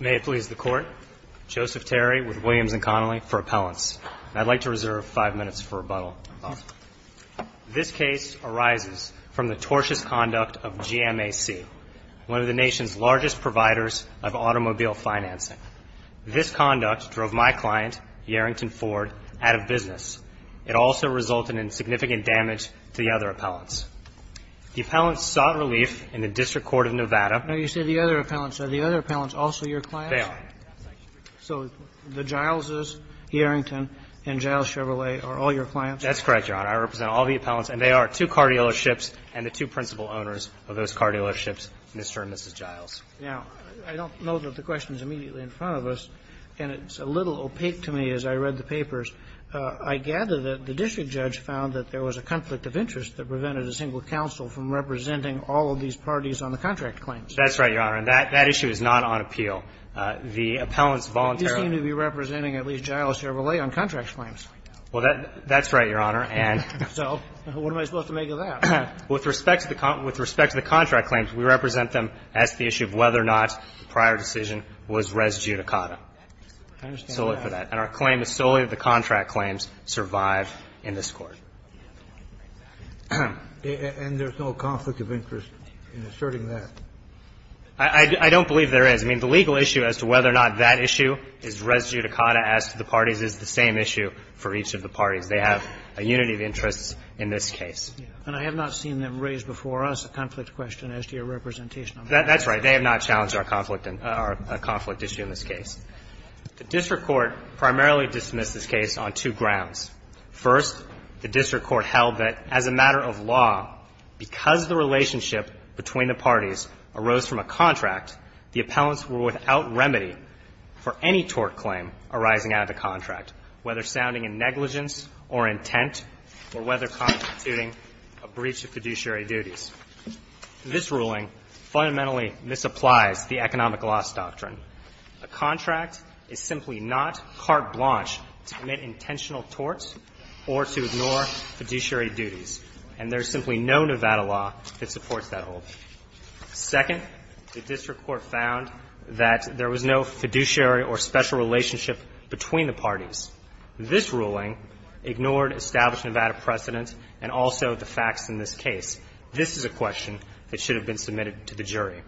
May it please the Court, Joseph Terry with Williams & Connolly for Appellants. I'd like to reserve five minutes for rebuttal. This case arises from the tortious conduct of GMAC, one of the nation's largest providers of automobile financing. This conduct drove my client, Yarrington Ford, out of business. It also resulted in significant damage to the other appellants. The appellants sought relief in the District Court of Nevada. Now, you say the other appellants. Are the other appellants also your clients? They are. So the Gileses, Yarrington, and Giles Chevrolet are all your clients? That's correct, Your Honor. I represent all the appellants, and they are two car dealerships and the two principal owners of those car dealerships, Mr. and Mrs. Giles. Now, I don't know that the question is immediately in front of us, and it's a little opaque to me as I read the papers. I gather that the district judge found that there was a conflict of interest that prevented a single counsel from representing all of these parties on the contract claims. That's right, Your Honor. And that issue is not on appeal. The appellants voluntarily ---- But you seem to be representing at least Giles Chevrolet on contract claims. Well, that's right, Your Honor, and ---- So what am I supposed to make of that? With respect to the contract claims, we represent them as to the issue of whether or not the prior decision was res judicata. I understand that. Solely for that. And our claim is solely that the contract claims survive in this Court. And there's no conflict of interest in asserting that? I don't believe there is. I mean, the legal issue as to whether or not that issue is res judicata as to the parties is the same issue for each of the parties. They have a unity of interests in this case. And I have not seen them raise before us a conflict question as to your representation on that. That's right. They have not challenged our conflict issue in this case. The district court primarily dismissed this case on two grounds. First, the district court held that as a matter of law, because the relationship between the parties arose from a contract, the appellants were without remedy for any tort claim arising out of the contract, whether sounding in negligence or intent or whether constituting a breach of fiduciary duties. This ruling fundamentally misapplies the economic loss doctrine. A contract is simply not carte blanche to commit intentional torts or to ignore fiduciary duties. And there's simply no Nevada law that supports that whole. Second, the district court found that there was no fiduciary or special relationship between the parties. This ruling ignored established Nevada precedent and also the facts in this case. This is a question that should have been submitted to the jury.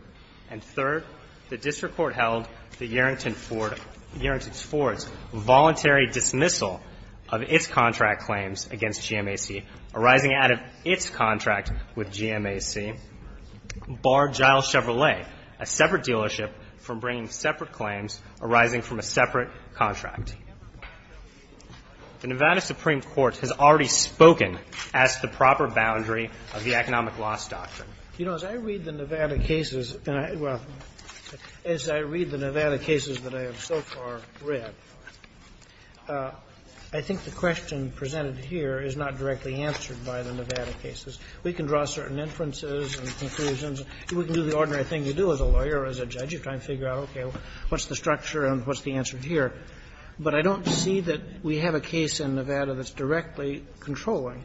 And third, the district court held that Yarrington Ford's voluntary dismissal of its contract claims against GMAC arising out of its contract with GMAC barred Giles Chevrolet, a separate dealership, from bringing separate claims arising from a separate contract. The Nevada Supreme Court has already spoken as to the proper boundary of the economic loss doctrine. You know, as I read the Nevada cases and I, well, as I read the Nevada cases that I have so far read, I think the question presented here is not directly answered by the Nevada cases. We can draw certain inferences and conclusions. We can do the ordinary thing you do as a lawyer or as a judge. You try and figure out, okay, what's the structure and what's the answer here. But I don't see that we have a case in Nevada that's directly controlling.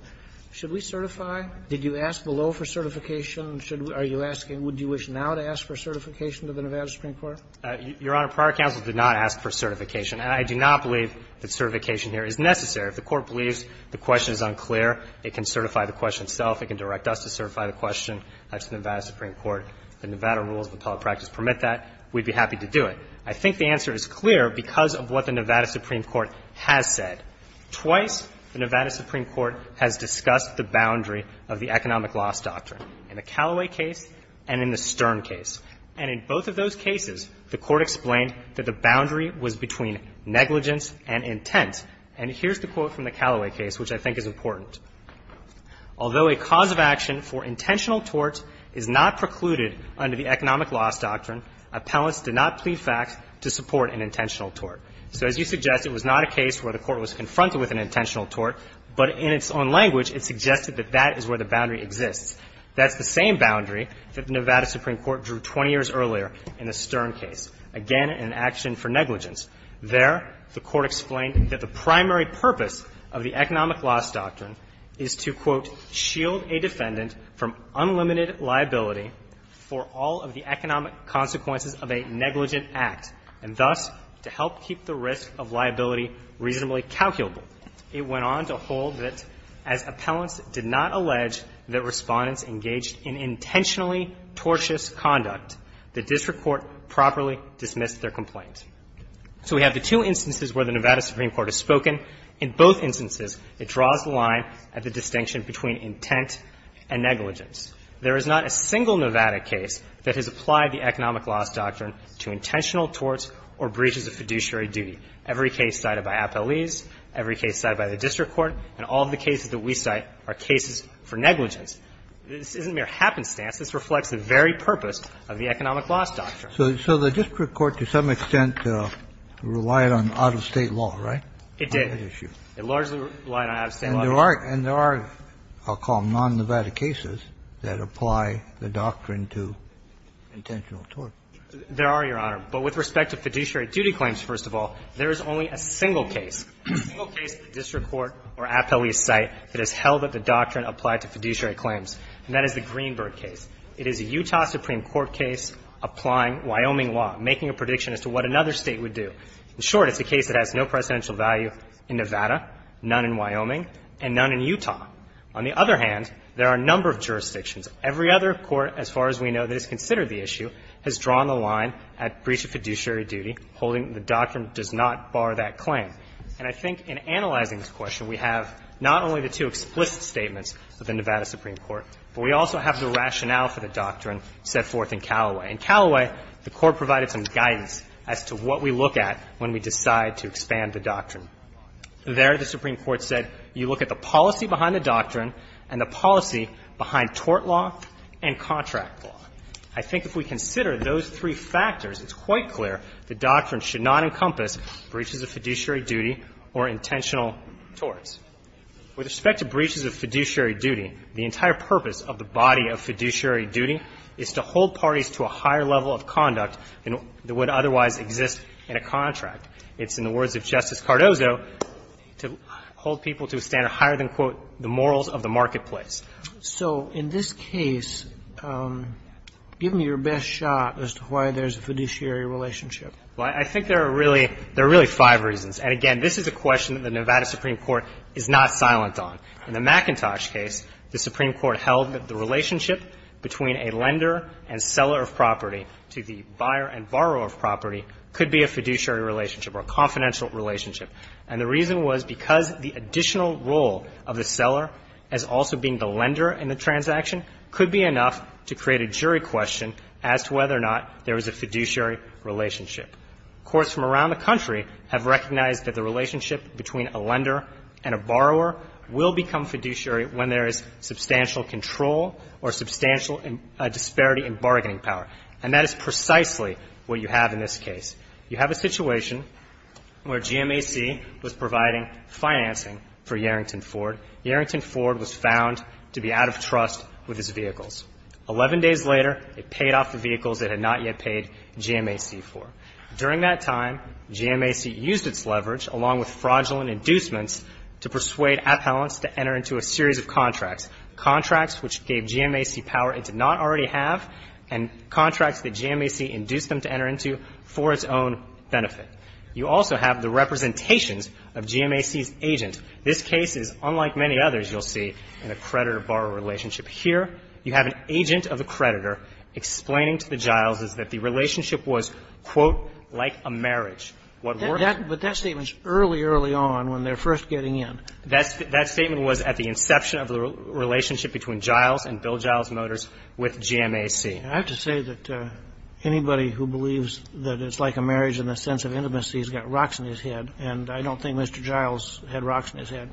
Should we certify? Did you ask below for certification? Should we, are you asking, would you wish now to ask for certification to the Nevada Supreme Court? Your Honor, prior counsel did not ask for certification. And I do not believe that certification here is necessary. If the Court believes the question is unclear, it can certify the question itself. It can direct us to certify the question. That's the Nevada Supreme Court. The Nevada rules of appellate practice permit that. We'd be happy to do it. I think the answer is clear because of what the Nevada Supreme Court has said. Twice the Nevada Supreme Court has discussed the boundary of the economic loss doctrine in the Callaway case and in the Stern case. And in both of those cases, the Court explained that the boundary was between negligence and intent. And here's the quote from the Callaway case, which I think is important. Although a cause of action for intentional tort is not precluded under the economic loss doctrine, appellants did not plead fact to support an intentional tort. So as you suggest, it was not a case where the Court was confronted with an intentional tort, but in its own language, it suggested that that is where the boundary exists. That's the same boundary that the Nevada Supreme Court drew 20 years earlier in the Stern case, again, an action for negligence. There, the Court explained that the primary purpose of the economic loss doctrine is to, quote, So we have the two instances where the Nevada Supreme Court has spoken. In both instances, it draws the line at the distinction between intent and negligence. There is not a single Nevada case that has applied the economic loss doctrine to intentional torts or breaches of fiduciary duty. Every case cited by appellees, every case cited by the district court, and all of the cases that we cite are cases for negligence. This isn't mere happenstance. This reflects the very purpose of the economic loss doctrine. Kennedy. So the district court, to some extent, relied on out-of-State law, right? It did. It largely relied on out-of-State law. And there are, I'll call them, non-Nevada cases that apply the doctrine to intentional torts. There are, Your Honor. But with respect to fiduciary duty claims, first of all, there is only a single case, a single case at the district court or appellee's site that has held that the doctrine applied to fiduciary claims, and that is the Greenberg case. It is a Utah Supreme Court case applying Wyoming law, making a prediction as to what another State would do. In short, it's a case that has no presidential value in Nevada, none in Wyoming, and none in Utah. On the other hand, there are a number of jurisdictions. Every other court, as far as we know, that has considered the issue has drawn the line at breach of fiduciary duty, holding the doctrine does not bar that claim. And I think in analyzing this question, we have not only the two explicit statements of the Nevada Supreme Court, but we also have the rationale for the doctrine set forth in Callaway. In Callaway, the Court provided some guidance as to what we look at when we decide to expand the doctrine. There, the Supreme Court said, you look at the policy behind the doctrine and the policy behind tort law and contract law. I think if we consider those three factors, it's quite clear the doctrine should not encompass breaches of fiduciary duty or intentional torts. With respect to breaches of fiduciary duty, the entire purpose of the body of fiduciary duty is to hold parties to a higher level of conduct than would otherwise exist in a contract. It's, in the words of Justice Cardozo, to hold people to a standard higher than, quote, the morals of the marketplace. So in this case, give me your best shot as to why there's a fiduciary relationship. Well, I think there are really five reasons. And again, this is a question that the Nevada Supreme Court is not silent on. In the McIntosh case, the Supreme Court held that the relationship between a lender and seller of property to the buyer and borrower of property could be a fiduciary relationship or a confidential relationship. And the reason was because the additional role of the seller as also being the lender in the transaction could be enough to create a jury question as to whether or not there is a fiduciary relationship. Courts from around the country have recognized that the relationship between a lender and a borrower will become fiduciary when there is substantial control or substantial disparity in bargaining power. And that is precisely what you have in this case. You have a situation where GMAC was providing financing for Yarrington Ford. Yarrington Ford was found to be out of trust with his vehicles. Eleven days later, it paid off the vehicles it had not yet paid GMAC for. During that time, GMAC used its leverage, along with fraudulent inducements, to persuade appellants to enter into a series of contracts, contracts which gave GMAC power it did not already have and contracts that GMAC induced them to enter into for its own benefit. You also have the representations of GMAC's agent. This case is unlike many others you'll see in a creditor-borrower relationship. Here, you have an agent of a creditor explaining to the Gileses that the relationship was, quote, like a marriage. But that statement's early, early on when they're first getting in. That statement was at the inception of the relationship between Giles and Bill Giles Motors with GMAC. I have to say that anybody who believes that it's like a marriage in the sense of intimacy has got rocks in his head, and I don't think Mr. Giles had rocks in his head.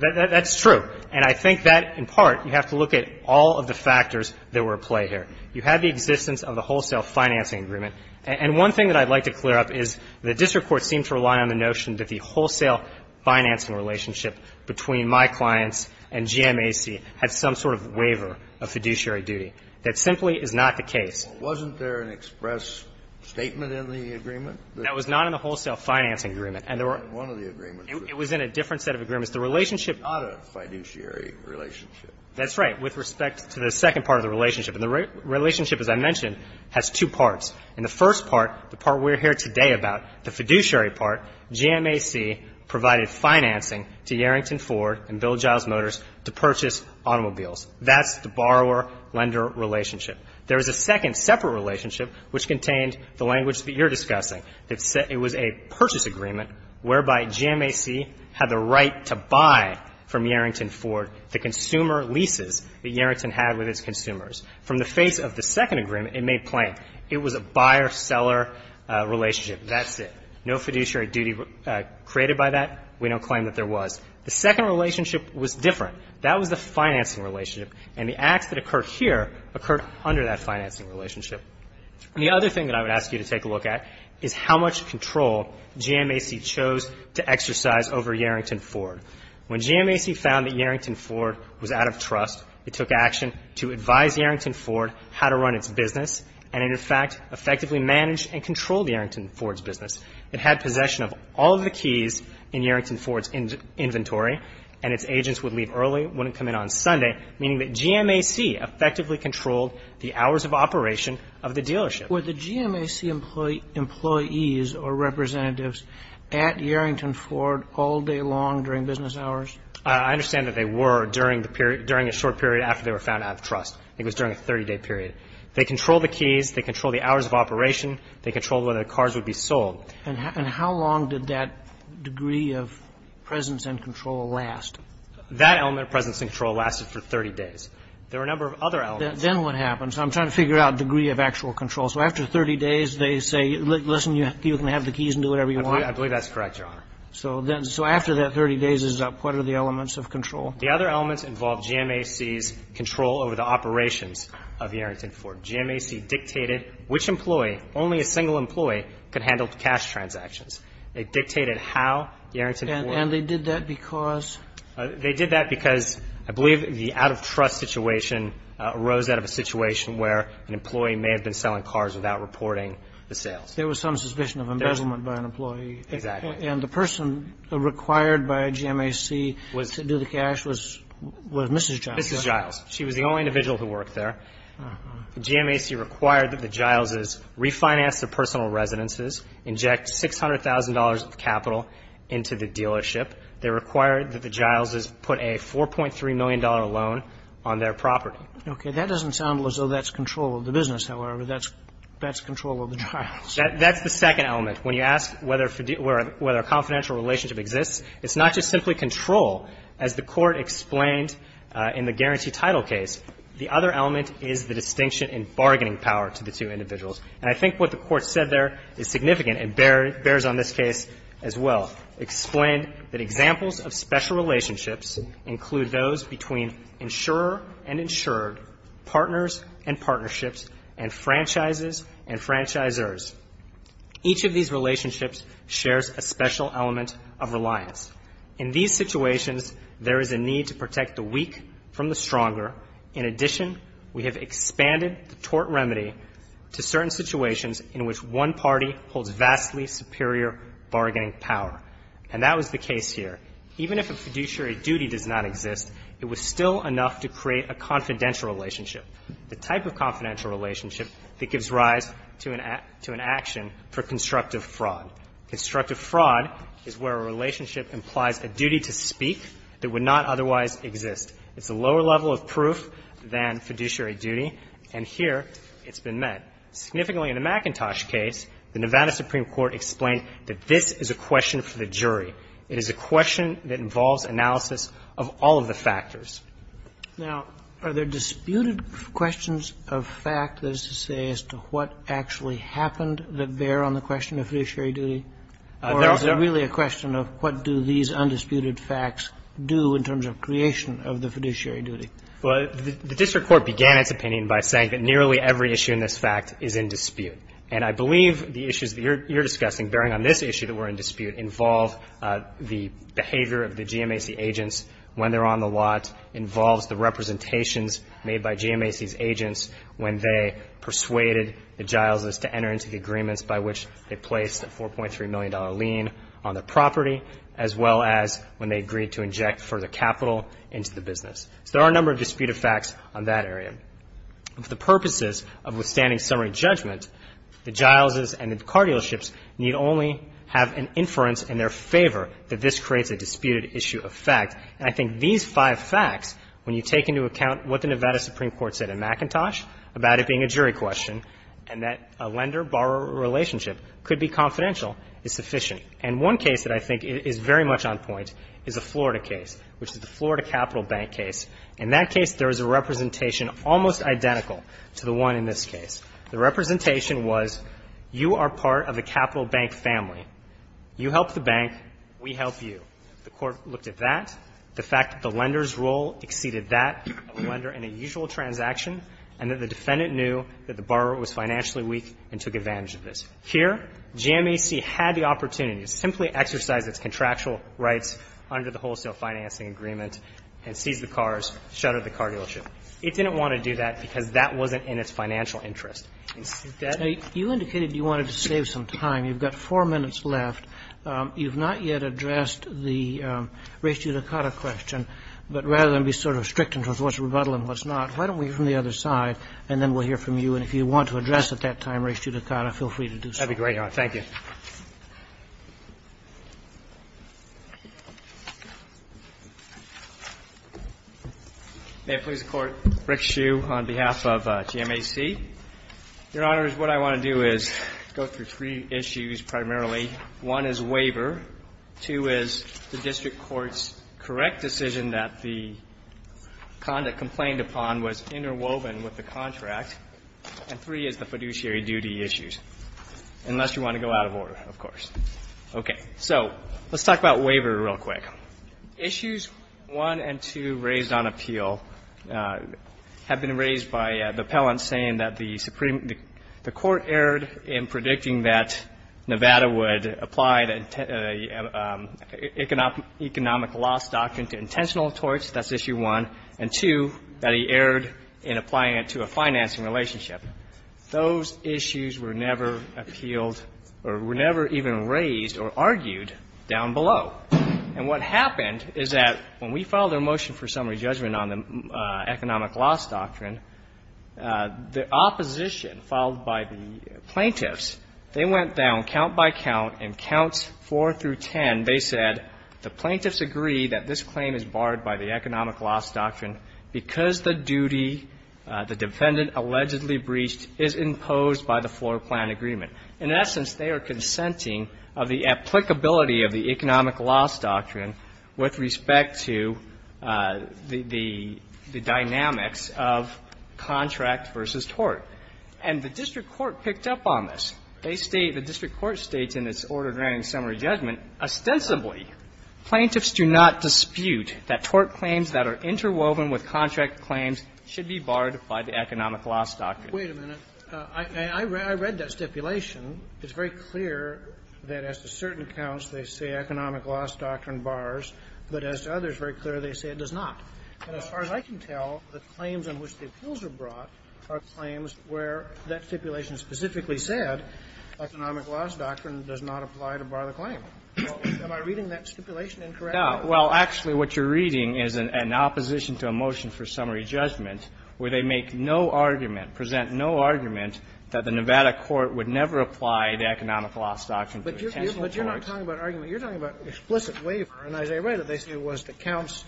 That's true. And I think that, in part, you have to look at all of the factors that were at play here. You have the existence of the wholesale financing agreement. And one thing that I'd like to clear up is the district court seemed to rely on the notion that the wholesale financing relationship between my clients and GMAC had some sort of waiver of fiduciary duty. That simply is not the case. Wasn't there an express statement in the agreement? That was not in the wholesale financing agreement. And there were one of the agreements. It was in a different set of agreements. The relationship Not a fiduciary relationship. That's right, with respect to the second part of the relationship. And the relationship, as I mentioned, has two parts. In the first part, the part we're here today about, the fiduciary part, GMAC provided financing to Yarrington Ford and Bill Giles Motors to purchase automobiles. That's the borrower-lender relationship. There is a second separate relationship which contained the language that you're discussing. It was a purchase agreement whereby GMAC had the right to buy from Yarrington Ford the consumer leases that Yarrington had with its consumers. From the face of the second agreement, it made plain, it was a buyer-seller relationship. That's it. No fiduciary duty created by that. We don't claim that there was. The second relationship was different. That was the financing relationship. And the acts that occurred here occurred under that financing relationship. The other thing that I would ask you to take a look at is how much control GMAC chose to exercise over Yarrington Ford. When GMAC found that Yarrington Ford was out of trust, it took action to advise Yarrington Ford how to run its business, and it, in fact, effectively managed and controlled Yarrington Ford's business. It had possession of all of the keys in Yarrington Ford's inventory, and its agents would leave early, wouldn't come in on Sunday, meaning that GMAC effectively controlled the hours of operation of the dealership. Were the GMAC employees or representatives at Yarrington Ford all day long during business hours? I understand that they were during a short period after they were found out of trust. It was during a 30-day period. They controlled the keys. They controlled the hours of operation. They controlled whether the cars would be sold. And how long did that degree of presence and control last? That element of presence and control lasted for 30 days. There were a number of other elements. Then what happens? I'm trying to figure out degree of actual control. So after 30 days, they say, listen, you can have the keys and do whatever you want? I believe that's correct, Your Honor. So then, so after that 30 days is up, what are the elements of control? The other elements involved GMAC's control over the operations of Yarrington Ford. GMAC dictated which employee, only a single employee, could handle the cash transactions. It dictated how Yarrington Ford. And they did that because? They did that because I believe the out-of-trust situation arose out of a situation where an employee may have been selling cars without reporting the sales. There was some suspicion of embezzlement by an employee. Exactly. And the person required by GMAC to do the cash was Mrs. Giles? Mrs. Giles. She was the only individual who worked there. GMAC required that the Gileses refinance their personal residences, inject $600,000 of capital into the dealership. They required that the Gileses put a $4.3 million loan on their property. Okay. That doesn't sound as though that's control of the business, however. That's control of the Giles. That's the second element. When you ask whether a confidential relationship exists, it's not just simply control, as the Court explained in the guarantee title case. The other element is the distinction in bargaining power to the two individuals. And I think what the Court said there is significant and bears on this case as well. It explained that examples of special relationships include those between insurer and insured, partners and partnerships, and franchises and franchisers. Each of these relationships shares a special element of reliance. In these situations, there is a need to protect the weak from the stronger. In addition, we have expanded the tort remedy to certain situations in which one party holds vastly superior bargaining power. And that was the case here. Even if a fiduciary duty does not exist, it was still enough to create a confidential relationship, the type of confidential relationship that gives rise to an action for constructive fraud. Constructive fraud is where a relationship implies a duty to speak that would not otherwise exist. It's a lower level of proof than fiduciary duty. And here, it's been met. Significantly, in the McIntosh case, the Nevada Supreme Court explained that this is a question for the jury. It is a question that involves analysis of all of the factors. Now, are there disputed questions of fact, that is to say, as to what actually happened that bear on the question of fiduciary duty? Or is it really a question of what do these undisputed facts do in terms of creation of the fiduciary duty? Well, the district court began its opinion by saying that nearly every issue in this fact is in dispute. And I believe the issues that you're discussing bearing on this issue that were in dispute involve the behavior of the GMAC agents when they're on the lot, involves the representations made by GMAC's agents when they persuaded the Gileses to enter into the agreements by which they placed a $4.3 million lien on the property, as well as when they agreed to inject further capital into the business. So there are a number of disputed facts on that area. For the purposes of withstanding summary judgment, the Gileses and the car dealerships need only have an inference in their favor that this creates a disputed issue of fact. And I think these five facts, when you take into account what the Nevada Supreme Court said in McIntosh about it being a jury question and that a lender-borrower relationship could be confidential, is sufficient. And one case that I think is very much on point is a Florida case, which is the Florida Capital Bank case. In that case, there is a representation almost identical to the one in this case. The representation was, you are part of a capital bank family. You help the bank, we help you. The court looked at that, the fact that the lender's role exceeded that of a lender in a usual transaction, and that the defendant knew that the borrower was financially weak and took advantage of this. Here, GMAC had the opportunity to simply exercise its contractual rights under the wholesale financing agreement and seize the cars, shutter the car dealership. It didn't want to do that because that wasn't in its financial interest. Instead you indicated you wanted to save some time. You've got four minutes left. You've not yet addressed the res judicata question, but rather than be sort of strict in terms of what's rebuttal and what's not, why don't we hear from the other side, and then we'll hear from you. And if you want to address at that time res judicata, feel free to do so. That would be great, Your Honor. Thank you. May it please the Court. Rick Hsu on behalf of GMAC. Your Honors, what I want to do is go through three issues primarily. One is waiver. Two is the district court's correct decision that the conduct complained upon was interwoven with the contract. And three is the fiduciary duty issues. Unless you want to go out of order, of course. Okay. So let's talk about waiver real quick. Issues one and two raised on appeal have been raised by the appellant saying that the Supreme the Court erred in predicting that Nevada would apply the economic loss doctrine to intentional torts. That's issue one. And two, that he erred in applying it to a financing relationship. Those issues were never appealed or were never even raised or argued down below. And what happened is that when we filed our motion for summary judgment on the economic loss doctrine, the opposition, followed by the plaintiffs, they went down count by count in counts four through ten. They said the plaintiffs agree that this claim is barred by the economic loss doctrine because the duty the defendant allegedly breached is imposed by the floor plan agreement. In essence, they are consenting of the applicability of the economic loss doctrine with respect to the dynamics of contract versus tort. And the district court picked up on this. They state, the district court states in its order granting summary judgment, ostensibly, plaintiffs do not dispute that tort claims that are interwoven with contract claims should be barred by the economic loss doctrine. Wait a minute. I read that stipulation. It's very clear that as to certain counts, they say economic loss doctrine bars. But as to others, very clearly, they say it does not. And as far as I can tell, the claims on which the appeals are brought are claims where that stipulation specifically said economic loss doctrine does not apply to bar the claim. Am I reading that stipulation incorrectly? No. Well, actually, what you're reading is an opposition to a motion for summary judgment where they make no argument, present no argument that the Nevada court would never apply the economic loss doctrine to a counsel tort. But you're not talking about argument. You're talking about explicit waiver. And as I read it, they say it was the counts.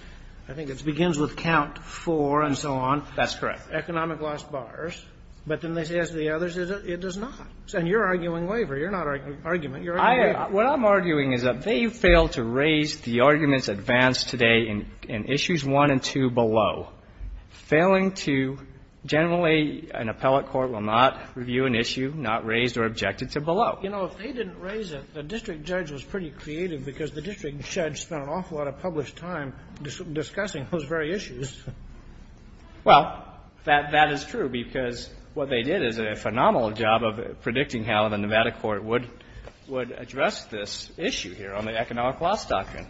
I think it's begins with count four and so on. That's correct. Economic loss bars. But then they say as to the others, it does not. And you're arguing waiver. You're not arguing argument. You're arguing waiver. What I'm arguing is that they failed to raise the arguments advanced today in issues one and two below. Failing to generally an appellate court will not review an issue not raised or objected to below. You know, if they didn't raise it, the district judge was pretty creative because the district judge spent an awful lot of published time discussing those very issues. Well, that is true because what they did is a phenomenal job of predicting how the Nevada court would address this issue here on the economic loss doctrine.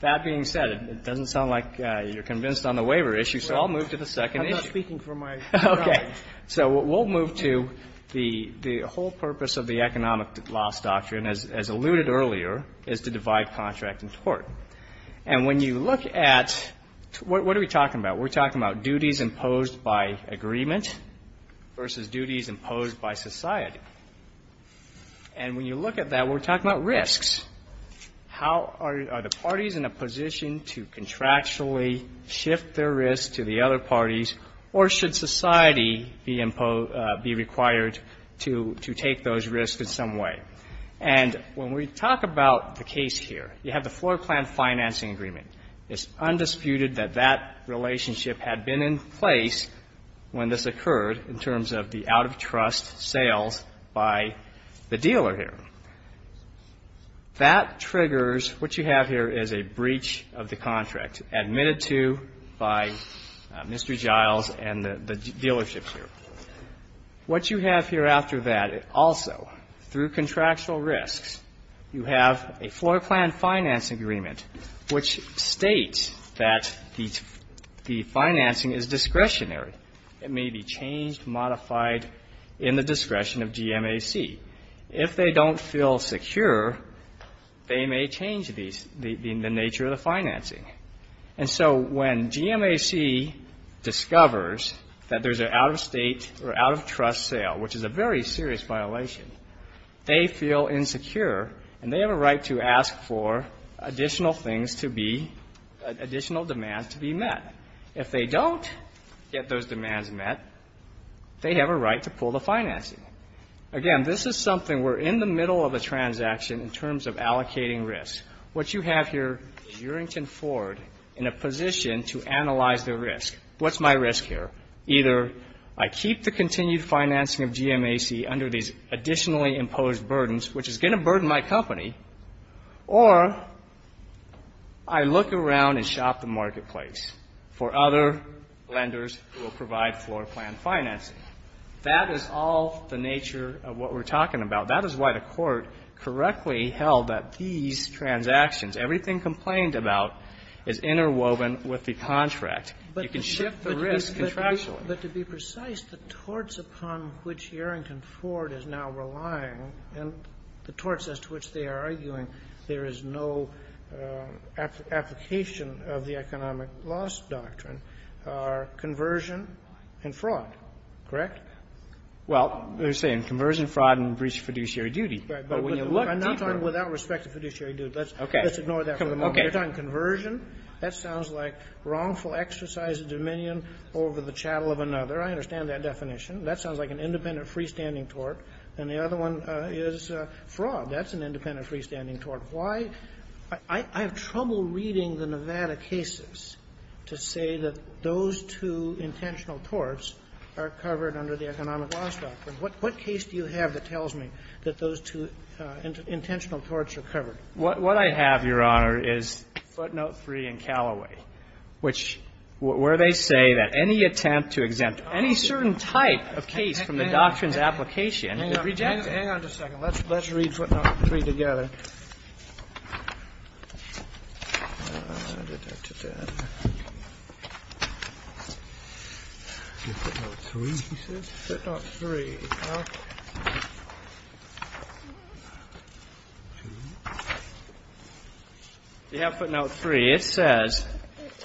That being said, it doesn't sound like you're convinced on the waiver issue, so I'll move to the second issue. I'm not speaking for my client. Okay. So we'll move to the whole purpose of the economic loss doctrine, as alluded earlier, is to divide contract and tort. And when you look at what are we talking about? We're talking about duties imposed by agreement versus duties imposed by society. And when you look at that, we're talking about risks. How are the parties in a position to contractually shift their risk to the other parties, or should society be required to take those risks in some way? And when we talk about the case here, you have the floor plan financing agreement. It's undisputed that that relationship had been in place when this occurred in terms of the out-of-trust sales by the dealer here. That triggers what you have here is a breach of the contract admitted to by Mr. Giles and the dealerships here. What you have here after that also, through contractual risks, you have a floor plan financing agreement, which states that the financing is discretionary. It may be changed, modified in the discretion of GMAC. If they don't feel secure, they may change the nature of the financing. And so when GMAC discovers that there's an out-of-state or out-of-trust sale, which is a very serious violation, they feel insecure and they have a right to ask for additional things to be, additional demands to be met. If they don't get those demands met, they have a right to pull the financing. Again, this is something we're in the middle of a transaction in terms of allocating risks. What you have here is Urington Ford in a position to analyze their risk. What's my risk here? Either I keep the continued financing of GMAC under these additionally imposed burdens, which is going to burden my company, or I look around and shop the marketplace for other lenders who will provide floor plan financing. That is all the nature of what we're talking about. That is why the Court correctly held that these transactions, everything complained about is interwoven with the contract. You can shift the risk contractually. But to be precise, the torts upon which Urington Ford is now relying and the torts as to which they are arguing there is no application of the economic loss doctrine are conversion and fraud, correct? Well, they're saying conversion, fraud, and breach of fiduciary duty. Right. But when you look deeper – I'm not talking without respect to fiduciary duty. Okay. Let's ignore that for the moment. Okay. You're talking conversion. That sounds like wrongful exercise of dominion over the chattel of another. I understand that definition. That sounds like an independent freestanding tort. And the other one is fraud. That's an independent freestanding tort. Why – I have trouble reading the Nevada cases to say that those two intentional torts are covered under the economic loss doctrine. What case do you have that tells me that those two intentional torts are covered? What I have, Your Honor, is footnote 3 in Callaway, which – where they say that any attempt to exempt any certain type of case from the doctrine's application is rejected. Hang on. Hang on just a second. Let's read footnote 3 together. I'll get back to that. Do you have footnote 3, he says? Footnote 3. Okay. Do you have footnote 3? It says,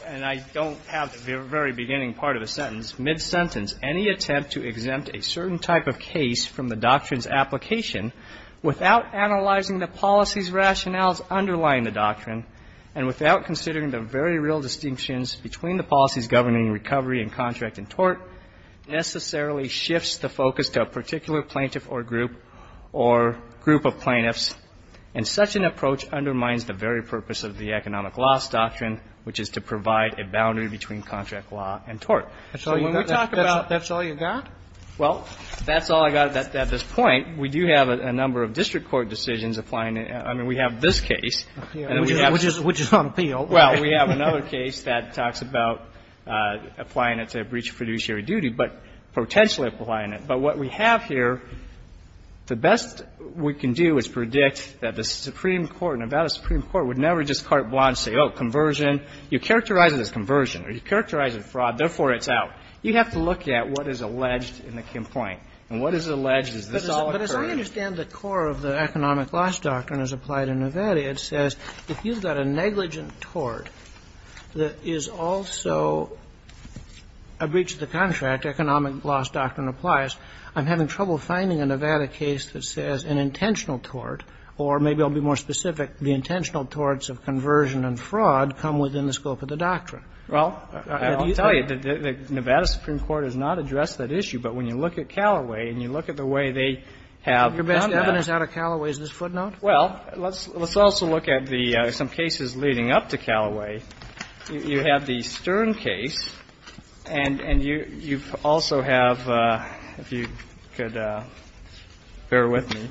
and I don't have the very beginning part of the sentence, mid-sentence, any attempt to exempt a certain type of case from the doctrine's application without analyzing the policy's rationales underlying the doctrine and without considering the very real distinctions between the policies governing recovery and contract and tort necessarily shifts the focus to a particular plaintiff or group or group of plaintiffs. And such an approach undermines the very purpose of the economic loss doctrine, which is to provide a boundary between contract law and tort. So when we talk about – That's all you got? Well, that's all I got at this point. We do have a number of district court decisions applying it. I mean, we have this case. Which is on appeal. Well, we have another case that talks about applying it to a breach of fiduciary duty, but potentially applying it. But what we have here, the best we can do is predict that the Supreme Court, Nevada Supreme Court, would never just carte blanche say, oh, conversion. You characterize it as conversion, or you characterize it as fraud, therefore it's out. You have to look at what is alleged in the complaint. And what is alleged? Does this all occur? But as I understand the core of the economic loss doctrine as applied in Nevada, it says if you've got a negligent tort that is also a breach of the contract, economic loss doctrine applies, I'm having trouble finding a Nevada case that says an intentional tort, or maybe I'll be more specific, the intentional torts of conversion and fraud come within the scope of the doctrine. Well, I'll tell you, the Nevada Supreme Court has not addressed that issue. But when you look at Callaway, and you look at the way they have done that. Your best evidence out of Callaway is this footnote? Well, let's also look at the some cases leading up to Callaway. You have the Stern case, and you also have, if you could bear with me,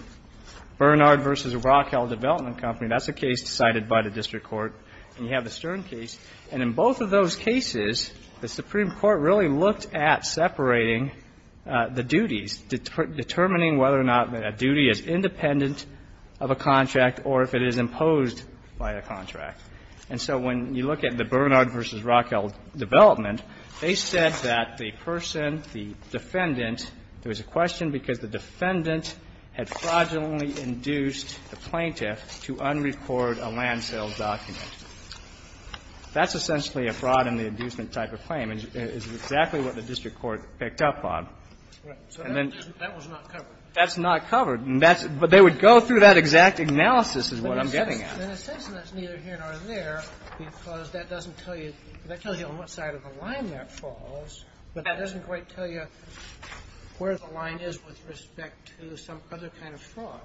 Bernard v. Rockwell Development Company. That's a case decided by the district court. And you have the Stern case. And in both of those cases, the Supreme Court really looked at separating the duties, determining whether or not a duty is independent of a contract or if it is imposed by a contract. And so when you look at the Bernard v. Rockwell Development, they said that the person, the defendant, there was a question because the defendant had fraudulently induced the plaintiff to unrecord a land sales document. That's essentially a fraud in the inducement type of claim. And it's exactly what the district court picked up on. Right. So that was not covered. That's not covered. But they would go through that exact analysis is what I'm getting at. In a sense, that's neither here nor there because that doesn't tell you on what side of the line that falls. But that doesn't quite tell you where the line is with respect to some other kind of fraud.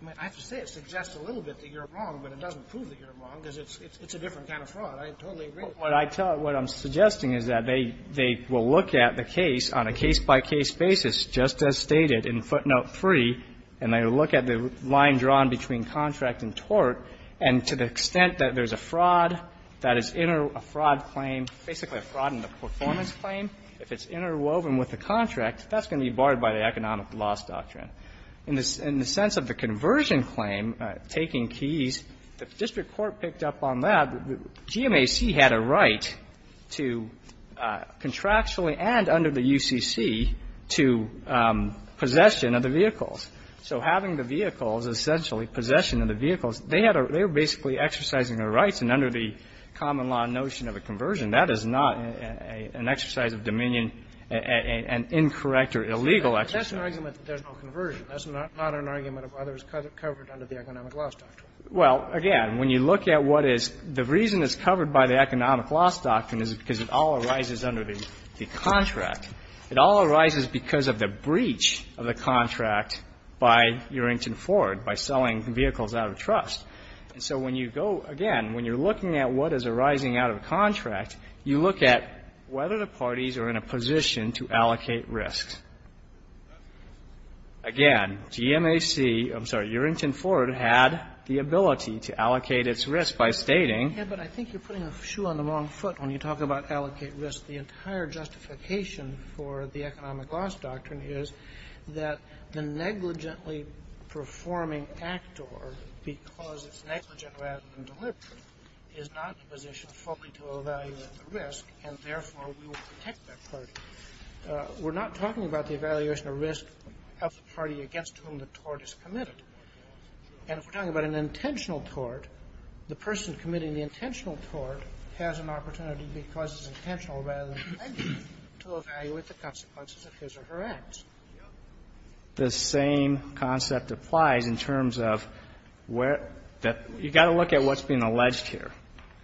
I mean, I have to say it suggests a little bit that you're wrong, but it doesn't prove that you're wrong because it's a different kind of fraud. I totally agree. But what I tell you, what I'm suggesting is that they will look at the case on a case-by-case basis, just as stated in footnote 3, and they will look at the line drawn between contract and tort. And to the extent that there's a fraud that is in a fraud claim, basically a fraud in the performance claim, if it's interwoven with the contract, that's going to be barred by the economic loss doctrine. In the sense of the conversion claim, taking keys, the district court picked up on that. GMAC had a right to contractually and under the UCC to possession of the vehicles. So having the vehicles, essentially possession of the vehicles, they had a – they were basically exercising their rights. And under the common law notion of a conversion, that is not an exercise of dominion, an incorrect or illegal exercise. But that's an argument that there's no conversion. That's not an argument of others covered under the economic loss doctrine. Well, again, when you look at what is – the reason it's covered by the economic loss doctrine is because it all arises under the contract. It all arises because of the breach of the contract by Urington Ford by selling vehicles out of trust. And so when you go – again, when you're looking at what is arising out of a contract, you look at whether the parties are in a position to allocate risks. Again, GMAC – I'm sorry, Urington Ford had the ability to allocate its risk by stating – Yeah, but I think you're putting a shoe on the wrong foot when you talk about allocate risk. The entire justification for the economic loss doctrine is that the negligently performing actor, because it's negligent rather than deliberate, is not in a position fully to evaluate the risk, and therefore we will protect that party. We're not talking about the evaluation of risk of the party against whom the tort is committed. And if we're talking about an intentional tort, the person committing the intentional tort has an opportunity, because it's intentional rather than negligent, to evaluate the consequences of his or her acts. The same concept applies in terms of where – you've got to look at what's being alleged here.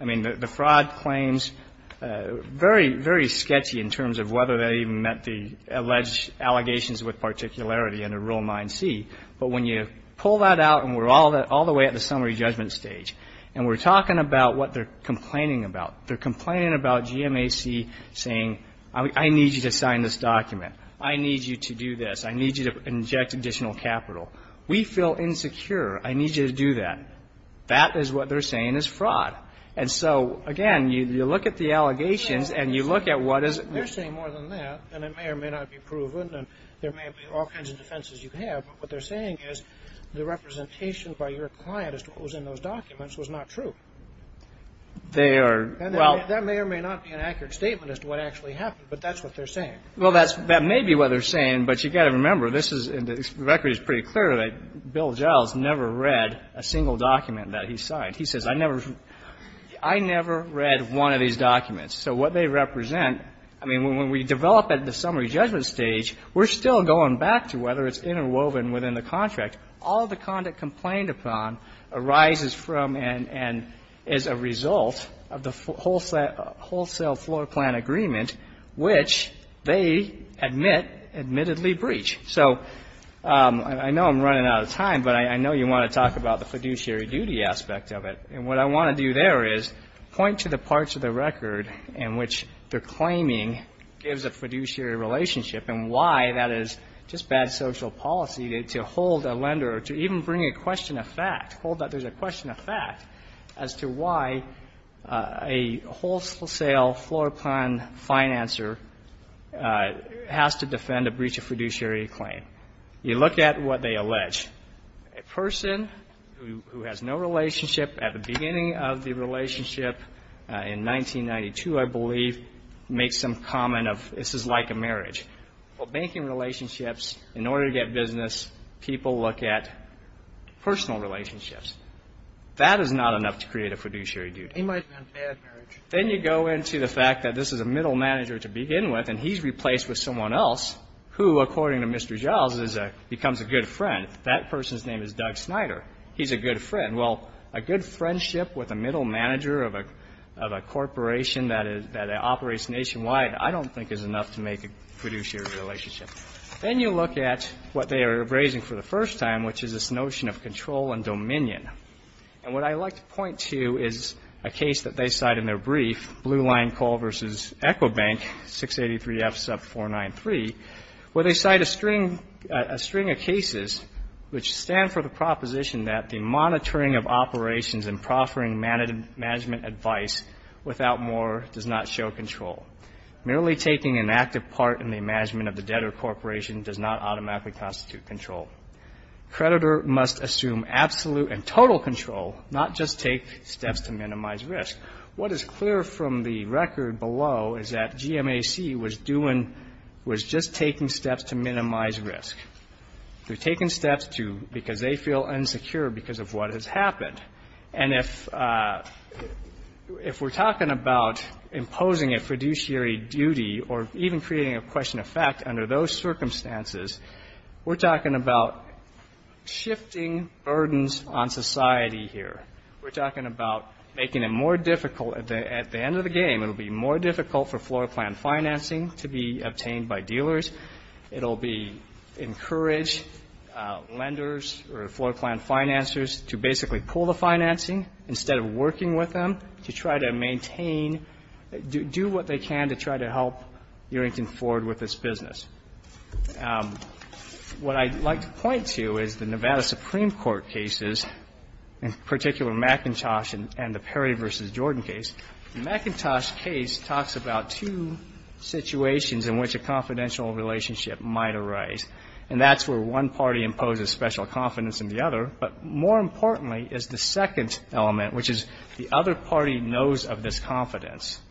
I mean, the fraud claims – very, very sketchy in terms of whether they even met the alleged allegations with particularity under Rule 9c. But when you pull that out and we're all the way at the summary judgment stage, and we're talking about what they're complaining about. They're complaining about GMAC saying, I need you to sign this document. I need you to do this. I need you to inject additional capital. We feel insecure. I need you to do that. That is what they're saying is fraud. And so, again, you look at the allegations and you look at what is – They're saying more than that. And it may or may not be proven. And there may be all kinds of defenses you have. But what they're saying is the representation by your client as to what was in those documents was not true. They are – And that may or may not be an accurate statement as to what actually happened, but that's what they're saying. Well, that may be what they're saying, but you've got to remember, this is – Bill Giles never read a single document that he signed. He says, I never – I never read one of these documents. So what they represent – I mean, when we develop at the summary judgment stage, we're still going back to whether it's interwoven within the contract. All the conduct complained upon arises from and is a result of the wholesale floor plan agreement, which they admit admittedly breach. So I know I'm running out of time, but I know you want to talk about the fiduciary duty aspect of it. And what I want to do there is point to the parts of the record in which they're claiming gives a fiduciary relationship and why that is just bad social policy to hold a lender or to even bring a question of fact, hold that there's a question of fact as to why a wholesale floor plan financer has to defend a breach of fiduciary claim. You look at what they allege. A person who has no relationship at the beginning of the relationship in 1992, I believe, makes some comment of this is like a marriage. Well, banking relationships, in order to get business, people look at personal relationships. That is not enough to create a fiduciary duty. It might have been a bad marriage. Then you go into the fact that this is a middle manager to begin with, and he's replaced with someone else who, according to Mr. Giles, becomes a good friend. That person's name is Doug Snyder. He's a good friend. Well, a good friendship with a middle manager of a corporation that operates nationwide I don't think is enough to make a fiduciary relationship. Then you look at what they are raising for the first time, which is this notion of control and dominion. And what I'd like to point to is a case that they cite in their brief, Blue Line Coal v. Ecobank, 683F, sub 493, where they cite a string of cases which stand for the proposition that the monitoring of operations and proffering management advice without more does not show control. Merely taking an active part in the management of the debtor corporation does not automatically constitute control. Creditor must assume absolute and total control, not just take steps to minimize risk. What is clear from the record below is that GMAC was doing, was just taking steps to minimize risk. They're taking steps to, because they feel insecure because of what has happened. And if we're talking about imposing a fiduciary duty or even creating a question and effect under those circumstances, we're talking about shifting burdens on society here. We're talking about making it more difficult at the end of the game. It'll be more difficult for floor plan financing to be obtained by dealers. It'll be encouraged lenders or floor plan financers to basically pull the financing instead of working with them to try to maintain, do what they can to try to help Earrington Ford with its business. What I'd like to point to is the Nevada Supreme Court cases, in particular McIntosh and the Perry v. Jordan case. The McIntosh case talks about two situations in which a confidential relationship might arise. And that's where one party imposes special confidence in the other. But more importantly is the second element, which is the other party knows of this confidence.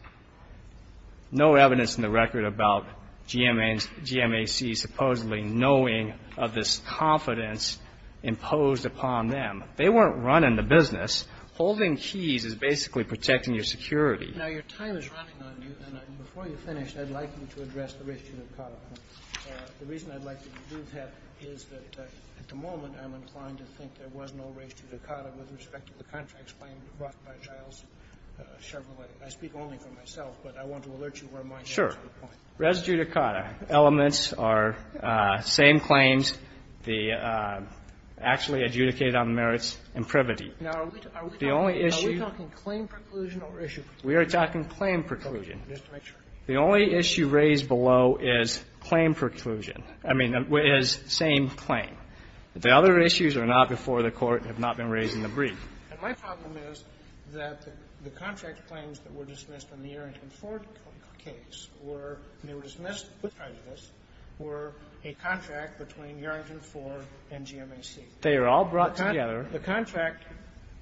No evidence in the record about GMAC supposedly knowing of this confidence imposed upon them. They weren't running the business. Holding keys is basically protecting your security. Now, your time is running on you. And before you finish, I'd like you to address the race to Zuccotti. The reason I'd like you to do that is that at the moment I'm inclined to think there was no race to Zuccotti with respect to the contracts claimed brought by Giles Chevrolet. I speak only for myself, but I want to alert you where my point is. Sure. Res judicata. Elements are same claims. The actually adjudicated on merits imprivity. Now, are we talking claim preclusion or issue? We are talking claim preclusion. Just to make sure. The only issue raised below is claim preclusion. I mean, is same claim. The other issues are not before the Court have not been raised in the brief. And my problem is that the contract claims that were dismissed in the Arrington Ford case were they were dismissed because of this were a contract between Arrington Ford and GMAC. They are all brought together. The contract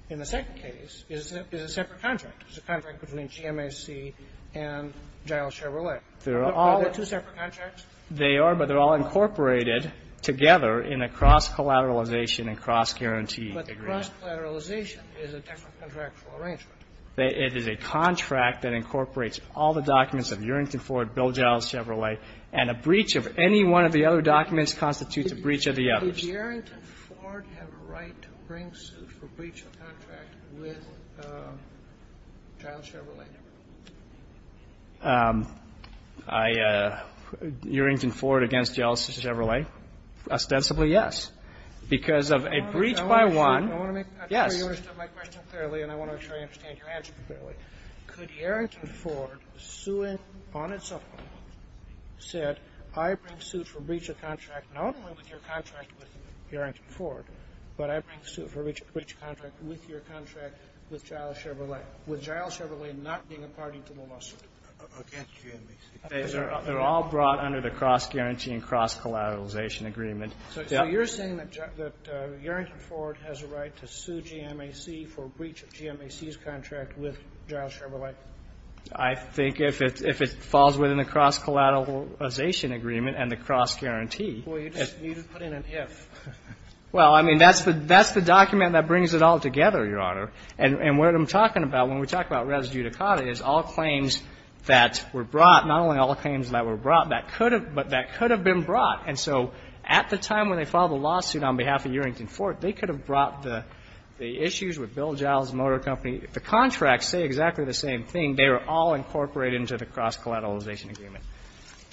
in the second case is a separate contract. It's a contract between GMAC and Giles Chevrolet. Are they two separate contracts? They are, but they're all incorporated together in a cross-collateralization and cross-guarantee agreement. But the cross-collateralization is a different contractual arrangement. It is a contract that incorporates all the documents of Arrington Ford, Bill Giles Chevrolet, and a breach of any one of the other documents constitutes a breach of the others. Did Arrington Ford have a right to bring suit for breach of contract with Giles Chevrolet? I, Arrington Ford against Giles Chevrolet? Ostensibly, yes. Because of a breach by one. Yes. I want to make sure you understood my question clearly and I want to make sure I understand your answer clearly. Could Arrington Ford, suing on its own, said I bring suit for breach of contract not only with your contract with Arrington Ford, but I bring suit for breach of contract with your contract with Giles Chevrolet. With Giles Chevrolet not being a party to the lawsuit? Against GMAC. They're all brought under the cross-guarantee and cross-collateralization agreement. So you're saying that Arrington Ford has a right to sue GMAC for breach of GMAC's contract with Giles Chevrolet? I think if it falls within the cross-collateralization agreement and the cross-guarantee. Well, you just put in an if. Well, I mean, that's the document that brings it all together, Your Honor. And what I'm talking about when we talk about res judicata is all claims that were brought, not only all claims that were brought, but that could have been brought. And so at the time when they filed the lawsuit on behalf of Arrington Ford, they could have brought the issues with Bill Giles Motor Company. If the contracts say exactly the same thing, they were all incorporated into the cross-collateralization agreement.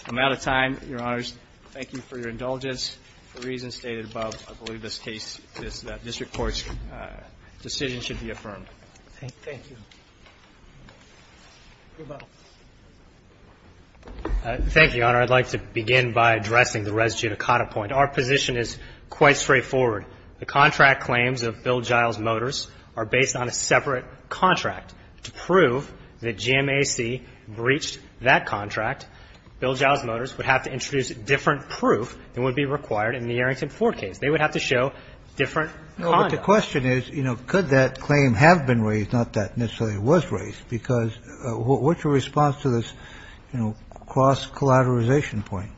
I'm out of time, Your Honors. Thank you for your indulgence. The reason stated above, I believe this case, this district court's decision should be affirmed. Thank you. Thank you, Your Honor. I'd like to begin by addressing the res judicata point. Our position is quite straightforward. The contract claims of Bill Giles Motors are based on a separate contract. To prove that GMAC breached that contract, Bill Giles Motors would have to introduce different proof than would be required in the Arrington Ford case. They would have to show different conduct. No, but the question is, you know, could that claim have been raised, not that necessarily it was raised? Because what's your response to this, you know, cross-collateralization point?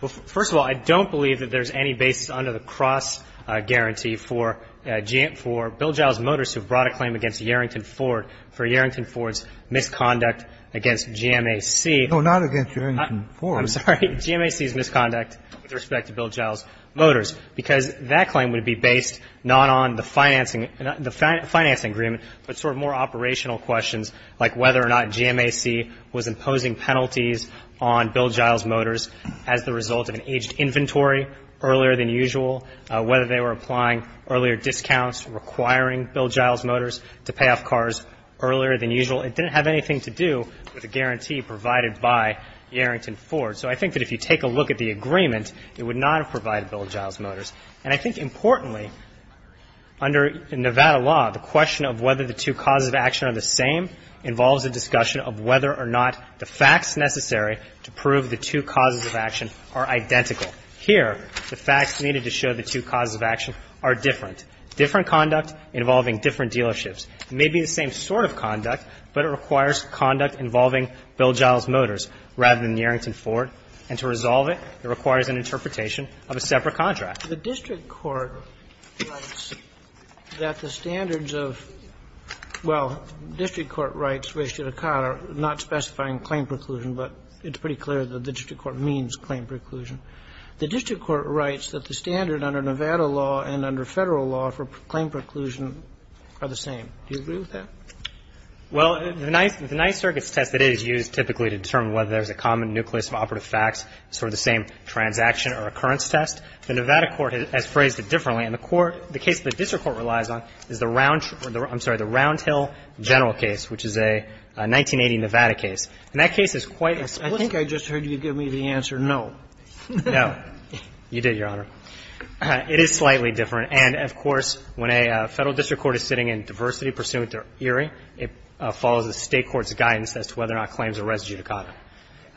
Well, first of all, I don't believe that there's any basis under the cross guarantee for Bill Giles Motors to have brought a claim against Arrington Ford for Arrington Ford's misconduct against GMAC. No, not against Arrington Ford. I'm sorry. GMAC's misconduct with respect to Bill Giles Motors. Because that claim would be based not on the financing agreement, but sort of more operational questions like whether or not GMAC was imposing penalties on Bill Giles Motors as the result of an aged inventory earlier than usual, whether they were applying earlier discounts requiring Bill Giles Motors to pay off cars earlier than usual. It didn't have anything to do with a guarantee provided by the Arrington Ford. So I think that if you take a look at the agreement, it would not have provided a guarantee provided by Bill Giles Motors. And I think importantly, under Nevada law, the question of whether the two causes of action are the same involves a discussion of whether or not the facts necessary to prove the two causes of action are identical. Here, the facts needed to show the two causes of action are different. Different conduct involving different dealerships. It may be the same sort of conduct, but it requires conduct involving Bill Giles Motors rather than the Arrington Ford. And to resolve it, it requires an interpretation of a separate contract. The district court writes that the standards of – well, district court writes not specifying claim preclusion, but it's pretty clear that the district court means claim preclusion. The district court writes that the standard under Nevada law and under Federal law for claim preclusion are the same. Do you agree with that? Well, the Ninth Circuit's test, it is used typically to determine whether there's a common nucleus of operative facts, sort of the same transaction or occurrence test. The Nevada court has phrased it differently. And the court – the case the district court relies on is the Round – I'm sorry, the Round Hill general case, which is a 1980 Nevada case. And that case is quite explicit. I think I just heard you give me the answer no. No. You did, Your Honor. It is slightly different. And, of course, when a Federal district court is sitting in diversity pursuant to Erie, it follows the State court's guidance as to whether or not claims are res judicata.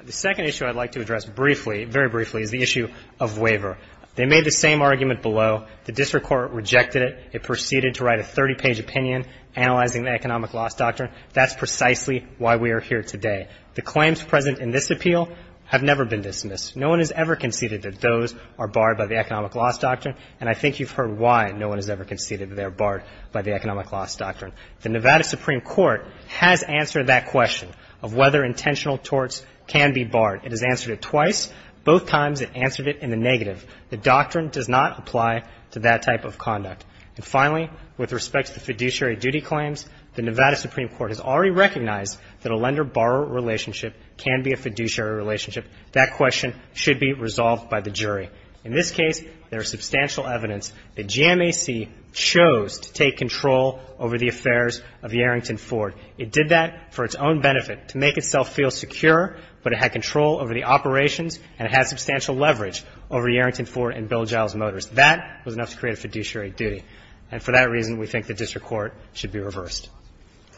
The second issue I'd like to address briefly, very briefly, is the issue of waiver. They made the same argument below. The district court rejected it. It proceeded to write a 30-page opinion analyzing the economic loss doctrine. That's precisely why we are here today. The claims present in this appeal have never been dismissed. No one has ever conceded that those are barred by the economic loss doctrine. And I think you've heard why no one has ever conceded that they're barred by the economic loss doctrine. The Nevada Supreme Court has answered that question of whether intentional torts can be barred. It has answered it twice. Both times it answered it in the negative. The doctrine does not apply to that type of conduct. And finally, with respect to the fiduciary duty claims, the Nevada Supreme Court has already recognized that a lender-borrower relationship can be a fiduciary relationship. That question should be resolved by the jury. In this case, there is substantial evidence that GMAC chose to take control over the affairs of the Arrington Ford. It did that for its own benefit, to make itself feel secure, but it had control over the operations, and it had substantial leverage over the Arrington Ford and Bill Giles Motors. That was enough to create a fiduciary duty. And for that reason, we think the district court should be reversed.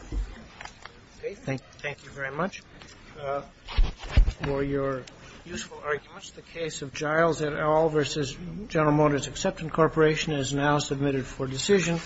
Roberts. Thank you very much. For your useful arguments, the case of Giles et al. v. General Motors Acceptance Corporation is now submitted for decision.